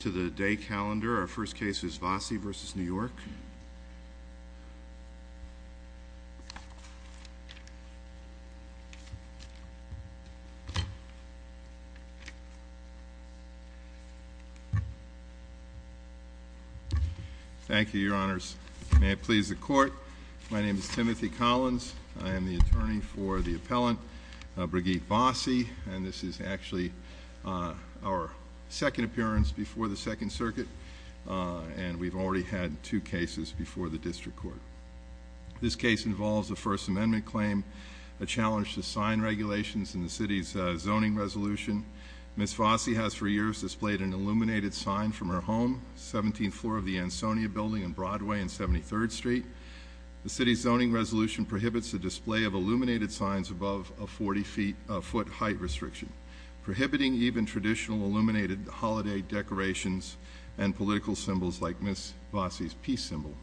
To the day calendar, our first case is Vosse v. New York. Thank you, your honors. May it please the court. My name is Timothy Collins. I am the attorney for the appellant, Brigitte Vosse, and this is actually our second appearance before the Second Circuit, and we've already had two cases before the district court. This case involves a First Amendment claim, a challenge to sign regulations in the city's zoning resolution. Ms. Vosse has for years displayed an illuminated sign from her home, 17th floor of the Ansonia Building on Broadway and 73rd Street. The city's zoning resolution prohibits the display of illuminated signs above a 40-foot height restriction, prohibiting even traditional illuminated holiday decorations and political symbols like Ms. Vosse's peace symbol.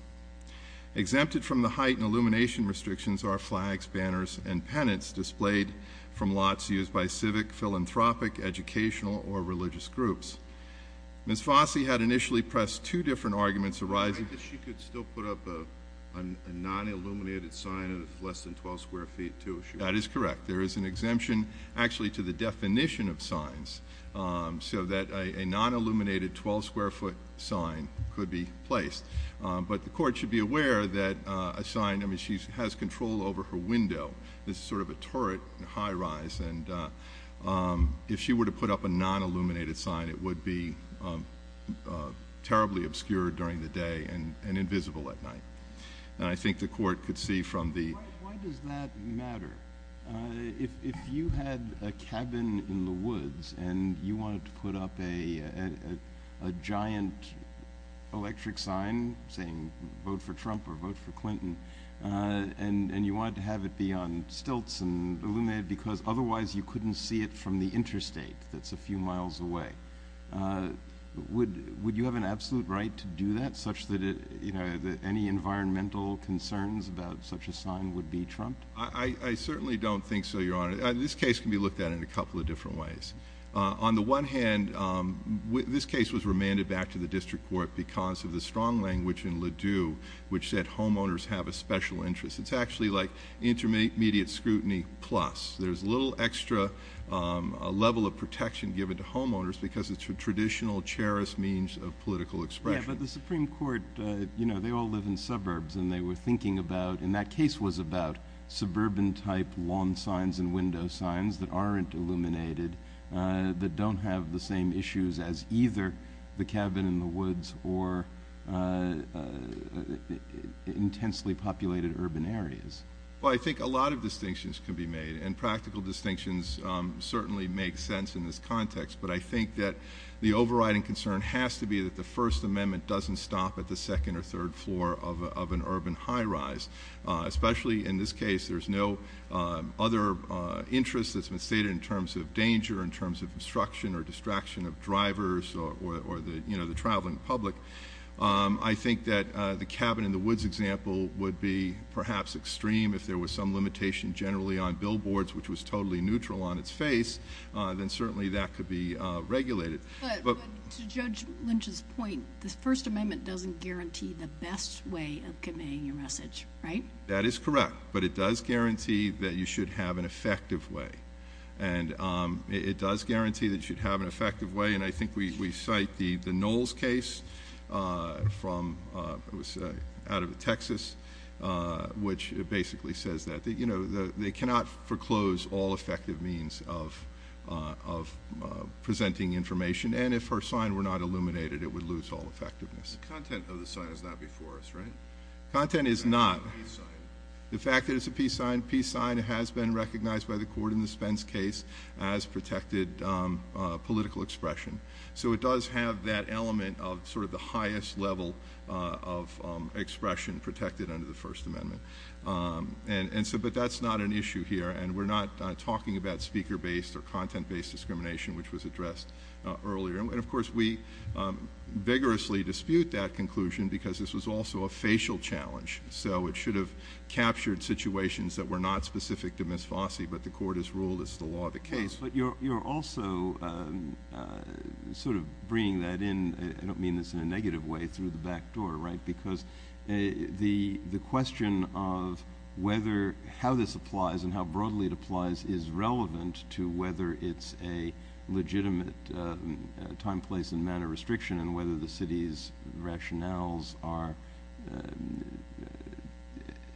Exempted from the height and illumination restrictions are flags, banners, and pennants displayed from lots used by civic, philanthropic, educational, or religious groups. Ms. Vosse had initially pressed two different arguments arising from this. I guess she could still put up a non-illuminated sign of less than 12 square feet, too. That is correct. There is an exemption actually to the definition of signs so that a non-illuminated 12 square foot sign could be placed. But the court should be aware that a sign, I mean, she has control over her window. This is sort of a turret, a high rise, and if she were to put up a non-illuminated sign, it would be terribly obscured during the day and invisible at night. And I think the court could see from the... vote for Trump or vote for Clinton, and you wanted to have it be on stilts and illuminated because otherwise you couldn't see it from the interstate that's a few miles away. Would you have an absolute right to do that such that any environmental concerns about such a sign would be trumped? I certainly don't think so, Your Honor. This case can be looked at in a couple of different ways. On the one hand, this case was remanded back to the district court because of the strong language in Ladue which said homeowners have a special interest. It's actually like intermediate scrutiny plus. There's little extra level of protection given to homeowners because it's a traditional, cherished means of political expression. But the Supreme Court, you know, they all live in suburbs and they were thinking about, and that case was about suburban type lawn signs and window signs that aren't illuminated, that don't have the same issues as either the cabin in the woods or intensely populated urban areas. Well, I think a lot of distinctions can be made, and practical distinctions certainly make sense in this context, but I think that the overriding concern has to be that the First Amendment doesn't stop at the second or third floor of an urban high-rise. Especially in this case, there's no other interest that's been stated in terms of danger, in terms of obstruction or distraction of drivers or the traveling public. I think that the cabin in the woods example would be perhaps extreme if there was some limitation generally on billboards, which was totally neutral on its face, then certainly that could be regulated. But to Judge Lynch's point, the First Amendment doesn't guarantee the best way of conveying your message, right? That is correct, but it does guarantee that you should have an effective way. And it does guarantee that you should have an effective way, and I think we cite the Knowles case out of Texas, which basically says that they cannot foreclose all effective means of presenting information, and if her sign were not illuminated, it would lose all effectiveness. The content of the sign is not before us, right? Content is not. It's a peace sign. The fact that it's a peace sign, peace sign has been recognized by the court in the Spence case as protected political expression. So it does have that element of sort of the highest level of expression protected under the First Amendment. But that's not an issue here, and we're not talking about speaker-based or content-based discrimination, which was addressed earlier. And, of course, we vigorously dispute that conclusion because this was also a facial challenge, so it should have captured situations that were not specific to Ms. Fossey, but the court has ruled it's the law of the case. But you're also sort of bringing that in, I don't mean this in a negative way, through the back door, right? Because the question of whether how this applies and how broadly it applies is relevant to whether it's a legitimate time, place, and manner restriction and whether the city's rationales are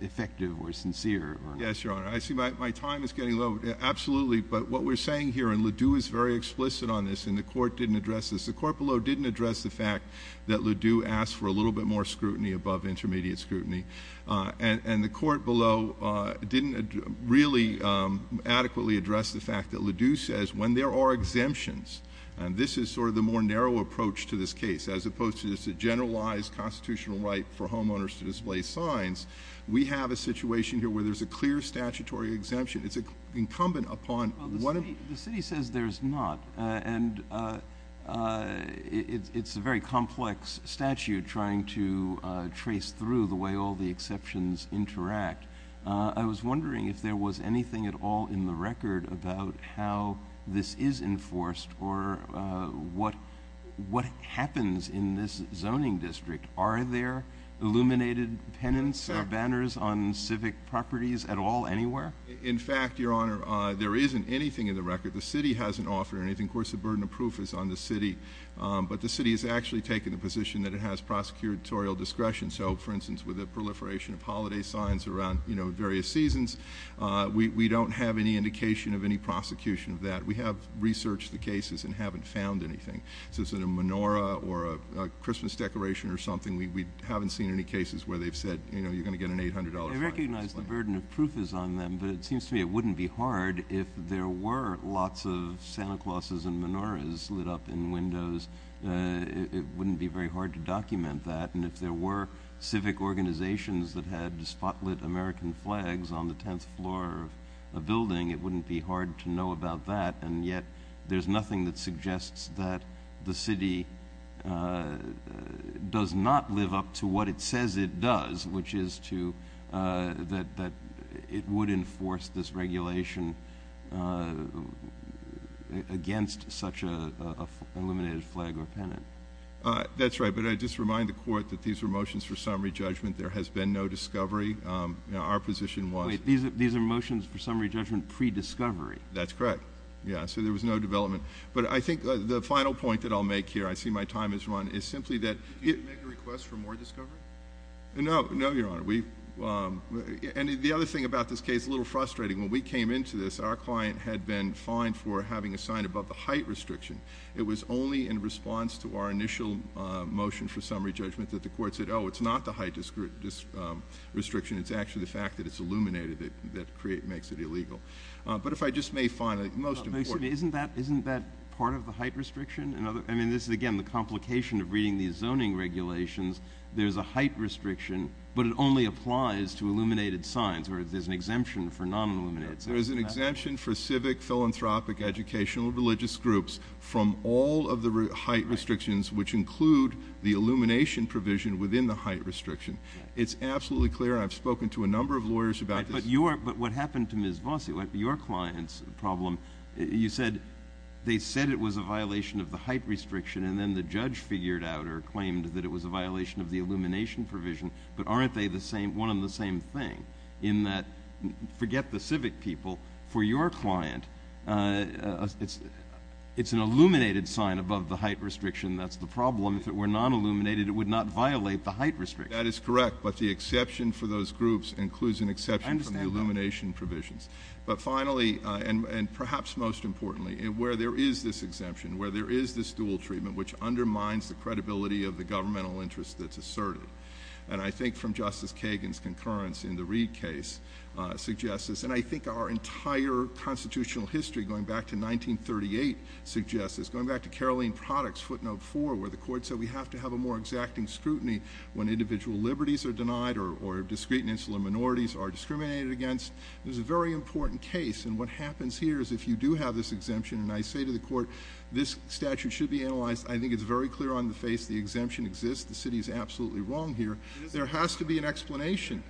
effective or sincere or not. Yes, Your Honor. I see my time is getting low. Absolutely. But what we're saying here, and Ledoux is very explicit on this, and the court didn't address this. The court below didn't address the fact that Ledoux asked for a little bit more scrutiny above intermediate scrutiny. And the court below didn't really adequately address the fact that Ledoux says when there are exemptions, and this is sort of the more narrow approach to this case, as opposed to just a generalized constitutional right for homeowners to display signs, we have a situation here where there's a clear statutory exemption. It's incumbent upon one of… Well, the city says there's not, and it's a very complex statute trying to trace through the way all the exceptions interact. I was wondering if there was anything at all in the record about how this is enforced or what happens in this zoning district. Are there illuminated pennants or banners on civic properties at all anywhere? In fact, Your Honor, there isn't anything in the record. The city hasn't offered anything. Of course, the burden of proof is on the city. But the city has actually taken the position that it has prosecutorial discretion. So, for instance, with the proliferation of holiday signs around various seasons, we don't have any indication of any prosecution of that. We have researched the cases and haven't found anything. So is it a menorah or a Christmas decoration or something? We haven't seen any cases where they've said, you know, you're going to get an $800 fine. I recognize the burden of proof is on them, but it seems to me it wouldn't be hard if there were lots of Santa Clauses and menorahs lit up in windows. It wouldn't be very hard to document that. And if there were civic organizations that had spotlit American flags on the tenth floor of a building, it wouldn't be hard to know about that. And yet there's nothing that suggests that the city does not live up to what it says it does, which is that it would enforce this regulation against such an illuminated flag or pennant. That's right. But I just remind the Court that these are motions for summary judgment. There has been no discovery. Our position was— Wait. These are motions for summary judgment pre-discovery. That's correct. Yeah. So there was no development. But I think the final point that I'll make here—I see my time has run—is simply that— Did you make a request for more discovery? No. No, Your Honor. And the other thing about this case, a little frustrating. When we came into this, our client had been fined for having a sign above the height restriction. It was only in response to our initial motion for summary judgment that the Court said, Oh, it's not the height restriction. It's actually the fact that it's illuminated that makes it illegal. But if I just may finally— Excuse me. Isn't that part of the height restriction? I mean, this is, again, the complication of reading these zoning regulations. There's a height restriction, but it only applies to illuminated signs, or there's an exemption for non-illuminated signs. There is an exemption for civic, philanthropic, educational, religious groups from all of the height restrictions, which include the illumination provision within the height restriction. It's absolutely clear. I've spoken to a number of lawyers about this. But what happened to Ms. Vossi, your client's problem, you said they said it was a violation of the height restriction, and then the judge figured out or claimed that it was a violation of the illumination provision. But aren't they the same, one and the same thing, in that, forget the civic people, for your client, it's an illuminated sign above the height restriction that's the problem. If it were non-illuminated, it would not violate the height restriction. That is correct, but the exception for those groups includes an exception from the illumination provisions. I understand that. But finally, and perhaps most importantly, where there is this exemption, where there is this dual treatment which undermines the credibility of the governmental interest that's asserted, and I think from Justice Kagan's concurrence in the Reid case suggests this, and I think our entire constitutional history, going back to 1938, suggests this. Going back to Caroline Products, footnote four, where the court said we have to have a more exacting scrutiny when individual liberties are denied or discreet and insular minorities are discriminated against. There's a very important case, and what happens here is if you do have this exemption, and I say to the court, this statute should be analyzed. I think it's very clear on the face the exemption exists. The city is absolutely wrong here. There has to be an explanation.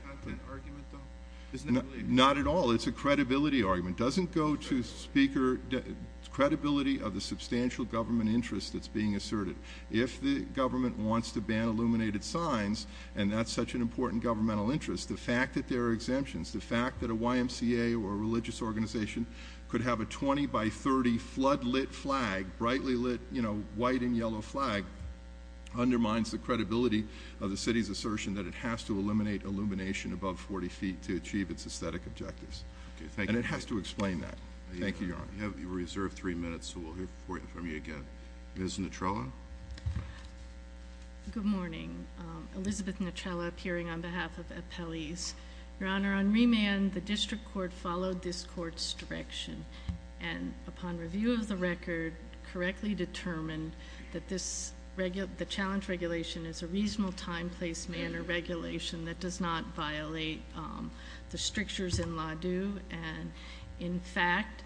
Not at all. It's a credibility argument. It doesn't go to credibility of the substantial government interest that's being asserted. If the government wants to ban illuminated signs, and that's such an important governmental interest, the fact that there are exemptions, the fact that a YMCA or a religious organization could have a 20 by 30 flood-lit flag, a brightly lit, you know, white and yellow flag, undermines the credibility of the city's assertion that it has to eliminate illumination above 40 feet to achieve its aesthetic objectives. And it has to explain that. Thank you, Your Honor. You have reserved three minutes, so we'll hear from you again. Ms. Nutrella? Good morning. Elizabeth Nutrella, appearing on behalf of appellees. Your Honor, on remand, the district court followed this court's direction, and upon review of the record, correctly determined that this challenge regulation is a reasonable time, place, manner regulation that does not violate the strictures in Laudu. And, in fact,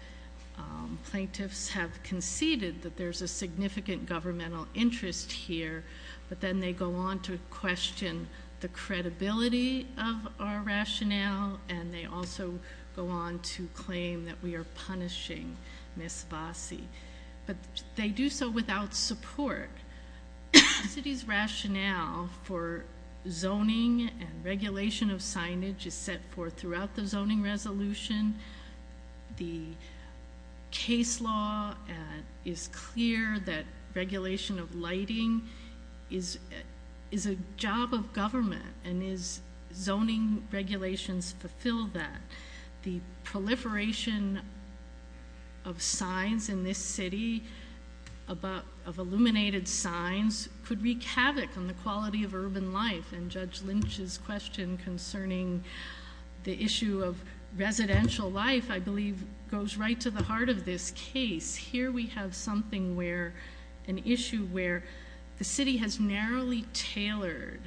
plaintiffs have conceded that there's a significant governmental interest here, but then they go on to question the credibility of our rationale, and they also go on to claim that we are punishing Ms. Vasi. But they do so without support. The city's rationale for zoning and regulation of signage is set forth throughout the zoning resolution. The case law is clear that regulation of lighting is a job of government and is zoning regulations fulfill that. The proliferation of signs in this city, of illuminated signs, could wreak havoc on the quality of urban life. And Judge Lynch's question concerning the issue of residential life, I believe, goes right to the heart of this case. Here we have something where, an issue where the city has narrowly tailored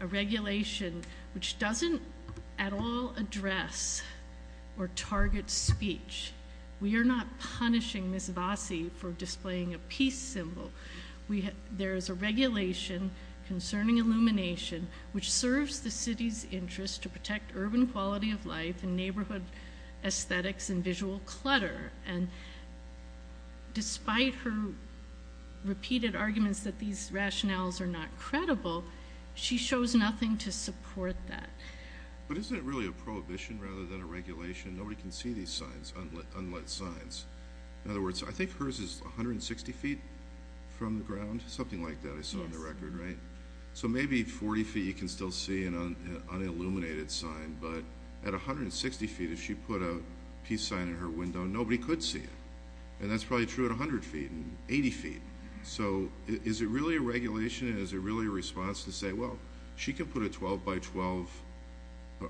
a regulation which doesn't at all address or target speech. We are not punishing Ms. Vasi for displaying a peace symbol. There is a regulation concerning illumination which serves the city's interest to protect urban quality of life and neighborhood aesthetics and visual clutter. And despite her repeated arguments that these rationales are not credible, she shows nothing to support that. But isn't it really a prohibition rather than a regulation? Nobody can see these signs, unlit signs. In other words, I think hers is 160 feet from the ground, something like that I saw on the record, right? So maybe 40 feet you can still see an unilluminated sign. But at 160 feet, if she put a peace sign in her window, nobody could see it. And that's probably true at 100 feet and 80 feet. So is it really a regulation and is it really a response to say, well, she can put a 12 by 12,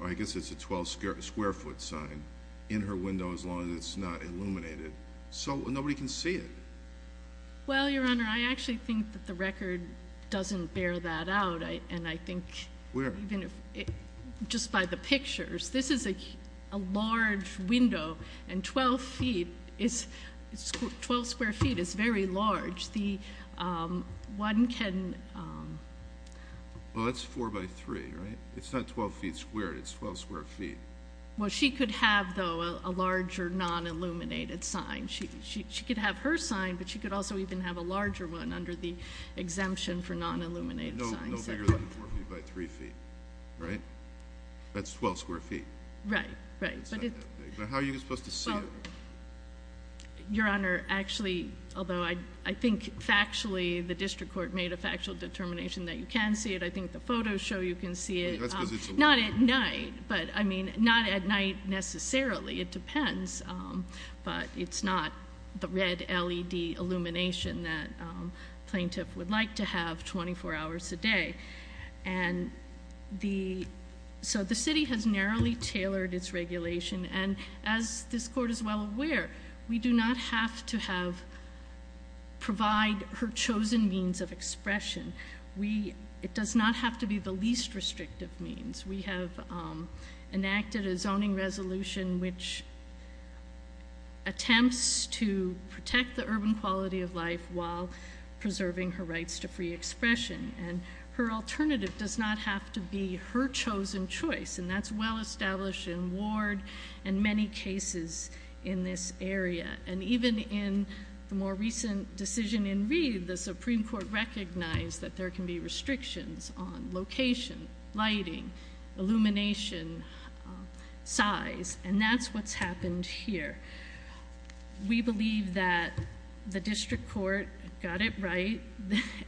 I guess it's a 12 square foot sign in her window as long as it's not illuminated. So nobody can see it. Well, Your Honor, I actually think that the record doesn't bear that out. And I think just by the pictures, this is a large window and 12 square feet is very large. One can... Well, it's four by three, right? It's not 12 feet squared. It's 12 square feet. Well, she could have, though, a larger non-illuminated sign. She could have her sign, but she could also even have a larger one under the exemption for non-illuminated signs. No bigger than four feet by three feet, right? That's 12 square feet. Right, right. But how are you supposed to see it? Your Honor, actually, although I think factually the district court made a factual determination that you can see it. I think the photos show you can see it. Not at night, but I mean not at night necessarily. It depends, but it's not the red LED illumination that plaintiff would like to have 24 hours a day. And so the city has narrowly tailored its regulation. And as this court is well aware, we do not have to provide her chosen means of expression. It does not have to be the least restrictive means. We have enacted a zoning resolution which attempts to protect the urban quality of life while preserving her rights to free expression. And her alternative does not have to be her chosen choice. And that's well established in Ward and many cases in this area. And even in the more recent decision in Reed, the Supreme Court recognized that there can be restrictions on location, lighting, illumination, size. And that's what's happened here. We believe that the district court got it right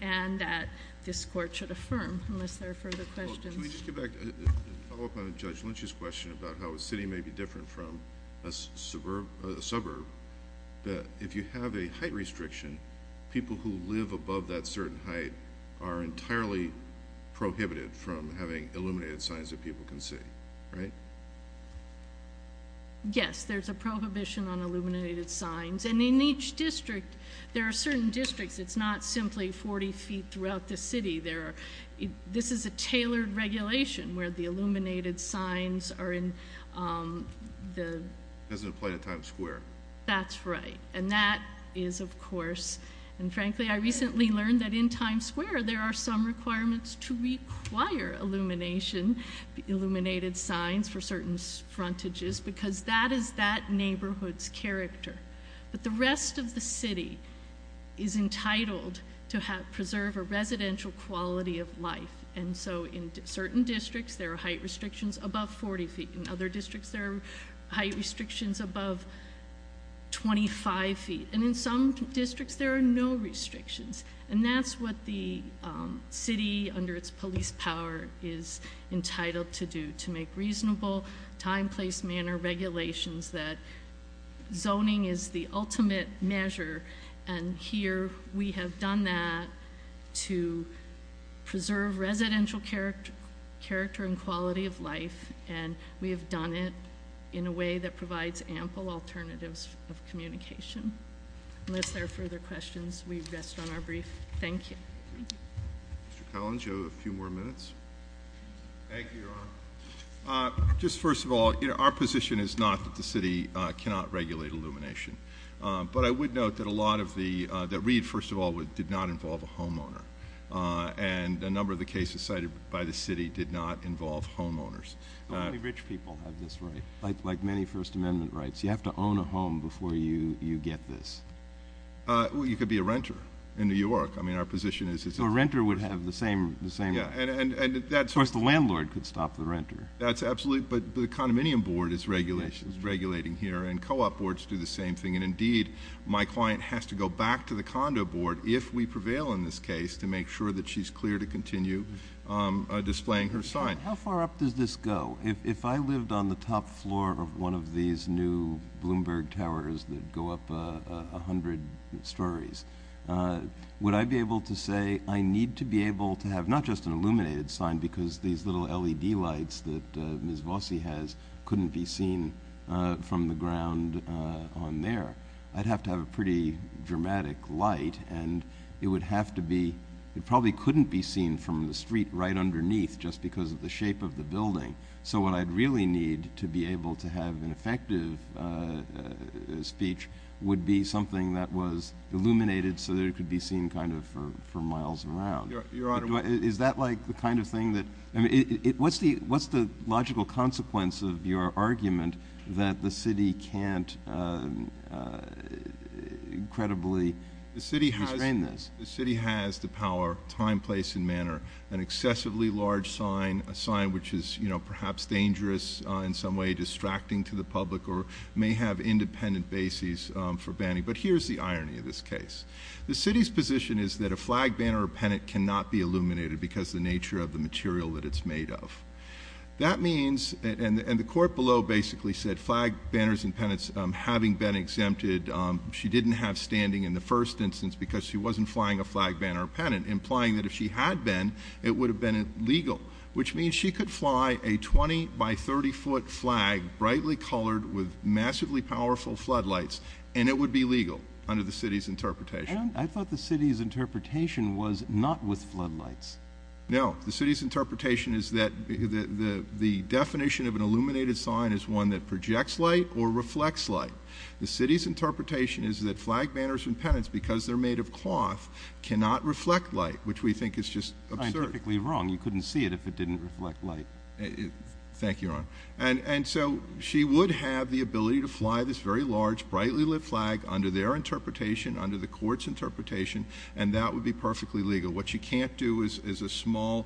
and that this court should affirm, unless there are further questions. Can we just get back and follow up on Judge Lynch's question about how a city may be different from a suburb? If you have a height restriction, people who live above that certain height are entirely prohibited from having illuminated signs that people can see, right? Yes, there's a prohibition on illuminated signs. And in each district, there are certain districts, it's not simply 40 feet throughout the city. This is a tailored regulation where the illuminated signs are in the- Doesn't apply to Times Square. That's right. And that is, of course, and frankly, I recently learned that in Times Square, there are some requirements to require illumination, illuminated signs for certain frontages. Because that is that neighborhood's character. But the rest of the city is entitled to preserve a residential quality of life. And so in certain districts, there are height restrictions above 40 feet. In other districts, there are height restrictions above 25 feet. And in some districts, there are no restrictions. And that's what the city, under its police power, is entitled to do. To make reasonable, time, place, manner regulations that zoning is the ultimate measure. And here, we have done that to preserve residential character and quality of life. And we have done it in a way that provides ample alternatives of communication. Unless there are further questions, we rest on our brief. Thank you. Thank you. Mr. Collins, you have a few more minutes. Thank you, Your Honor. Just first of all, our position is not that the city cannot regulate illumination. But I would note that a lot of the- that Reed, first of all, did not involve a homeowner. And a number of the cases cited by the city did not involve homeowners. Only rich people have this right. Like many First Amendment rights, you have to own a home before you get this. Well, you could be a renter in New York. I mean, our position is- So a renter would have the same- Yeah, and that's- Of course, the landlord could stop the renter. That's absolute. But the condominium board is regulating here. And co-op boards do the same thing. And, indeed, my client has to go back to the condo board, if we prevail in this case, to make sure that she's clear to continue displaying her sign. How far up does this go? Well, if I lived on the top floor of one of these new Bloomberg Towers that go up 100 stories, would I be able to say, I need to be able to have not just an illuminated sign, because these little LED lights that Ms. Vossi has couldn't be seen from the ground on there. I'd have to have a pretty dramatic light. And it would have to be- just because of the shape of the building. So what I'd really need to be able to have an effective speech would be something that was illuminated so that it could be seen kind of for miles around. Your Honor- Is that like the kind of thing that- I mean, what's the logical consequence of your argument that the city can't incredibly restrain this? The city has the power, time, place, and manner, an excessively large sign, a sign which is perhaps dangerous in some way, distracting to the public, or may have independent bases for banning. But here's the irony of this case. The city's position is that a flag, banner, or pennant cannot be illuminated because of the nature of the material that it's made of. That means- and the court below basically said flag, banners, and pennants, having been exempted, she didn't have standing in the first instance because she wasn't flying a flag, banner, or pennant, implying that if she had been, it would have been illegal, which means she could fly a 20-by-30-foot flag, brightly colored with massively powerful floodlights, and it would be legal under the city's interpretation. And I thought the city's interpretation was not with floodlights. No. The city's interpretation is that the definition of an illuminated sign is one that projects light or reflects light. The city's interpretation is that flag, banners, and pennants, because they're made of cloth, cannot reflect light, which we think is just absurd. Scientifically wrong. You couldn't see it if it didn't reflect light. Thank you, Your Honor. And so she would have the ability to fly this very large, brightly lit flag under their interpretation, under the court's interpretation, and that would be perfectly legal. What she can't do is a small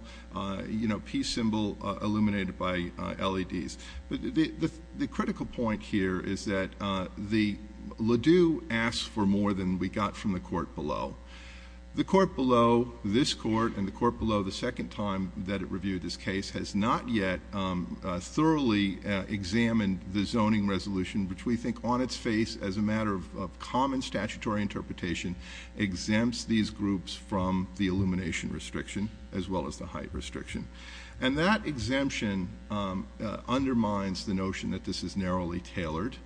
peace symbol illuminated by LEDs. The critical point here is that the ladue asks for more than we got from the court below. The court below, this court, and the court below the second time that it reviewed this case, has not yet thoroughly examined the zoning resolution, which we think on its face, as a matter of common statutory interpretation, exempts these groups from the illumination restriction as well as the height restriction. And that exemption undermines the notion that this is narrowly tailored.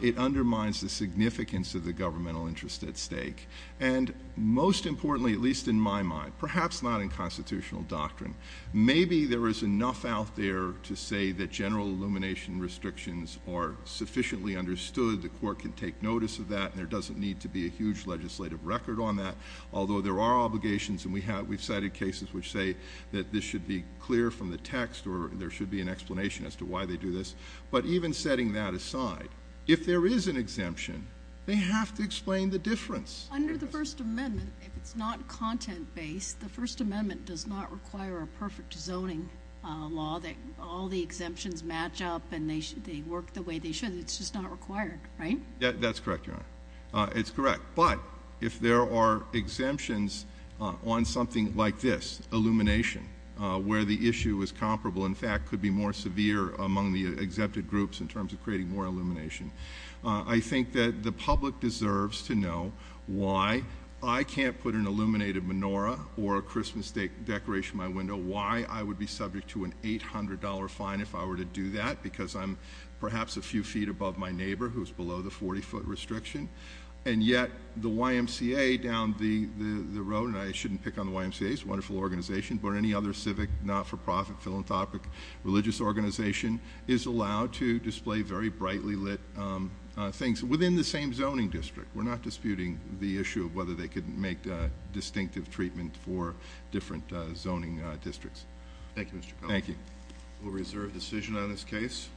It undermines the significance of the governmental interest at stake. And most importantly, at least in my mind, perhaps not in constitutional doctrine, maybe there is enough out there to say that general illumination restrictions are sufficiently understood, the court can take notice of that, and there doesn't need to be a huge legislative record on that, although there are obligations, and we've cited cases which say that this should be clear from the text or there should be an explanation as to why they do this. But even setting that aside, if there is an exemption, they have to explain the difference. Under the First Amendment, if it's not content-based, the First Amendment does not require a perfect zoning law that all the exemptions match up and they work the way they should. It's just not required, right? That's correct, Your Honor. It's correct. But if there are exemptions on something like this, illumination, where the issue is comparable, in fact could be more severe among the exempted groups in terms of creating more illumination, I think that the public deserves to know why I can't put an illuminated menorah or a Christmas decoration in my window, why I would be subject to an $800 fine if I were to do that because I'm perhaps a few feet above my neighbor who's below the 40-foot restriction. And yet the YMCA down the road, and I shouldn't pick on the YMCA, it's a wonderful organization, but any other civic, not-for-profit, philanthropic, religious organization is allowed to display very brightly lit things within the same zoning district. We're not disputing the issue of whether they could make distinctive treatment for different zoning districts. Thank you, Mr. Cuff. Thank you. We'll reserve decision on this case.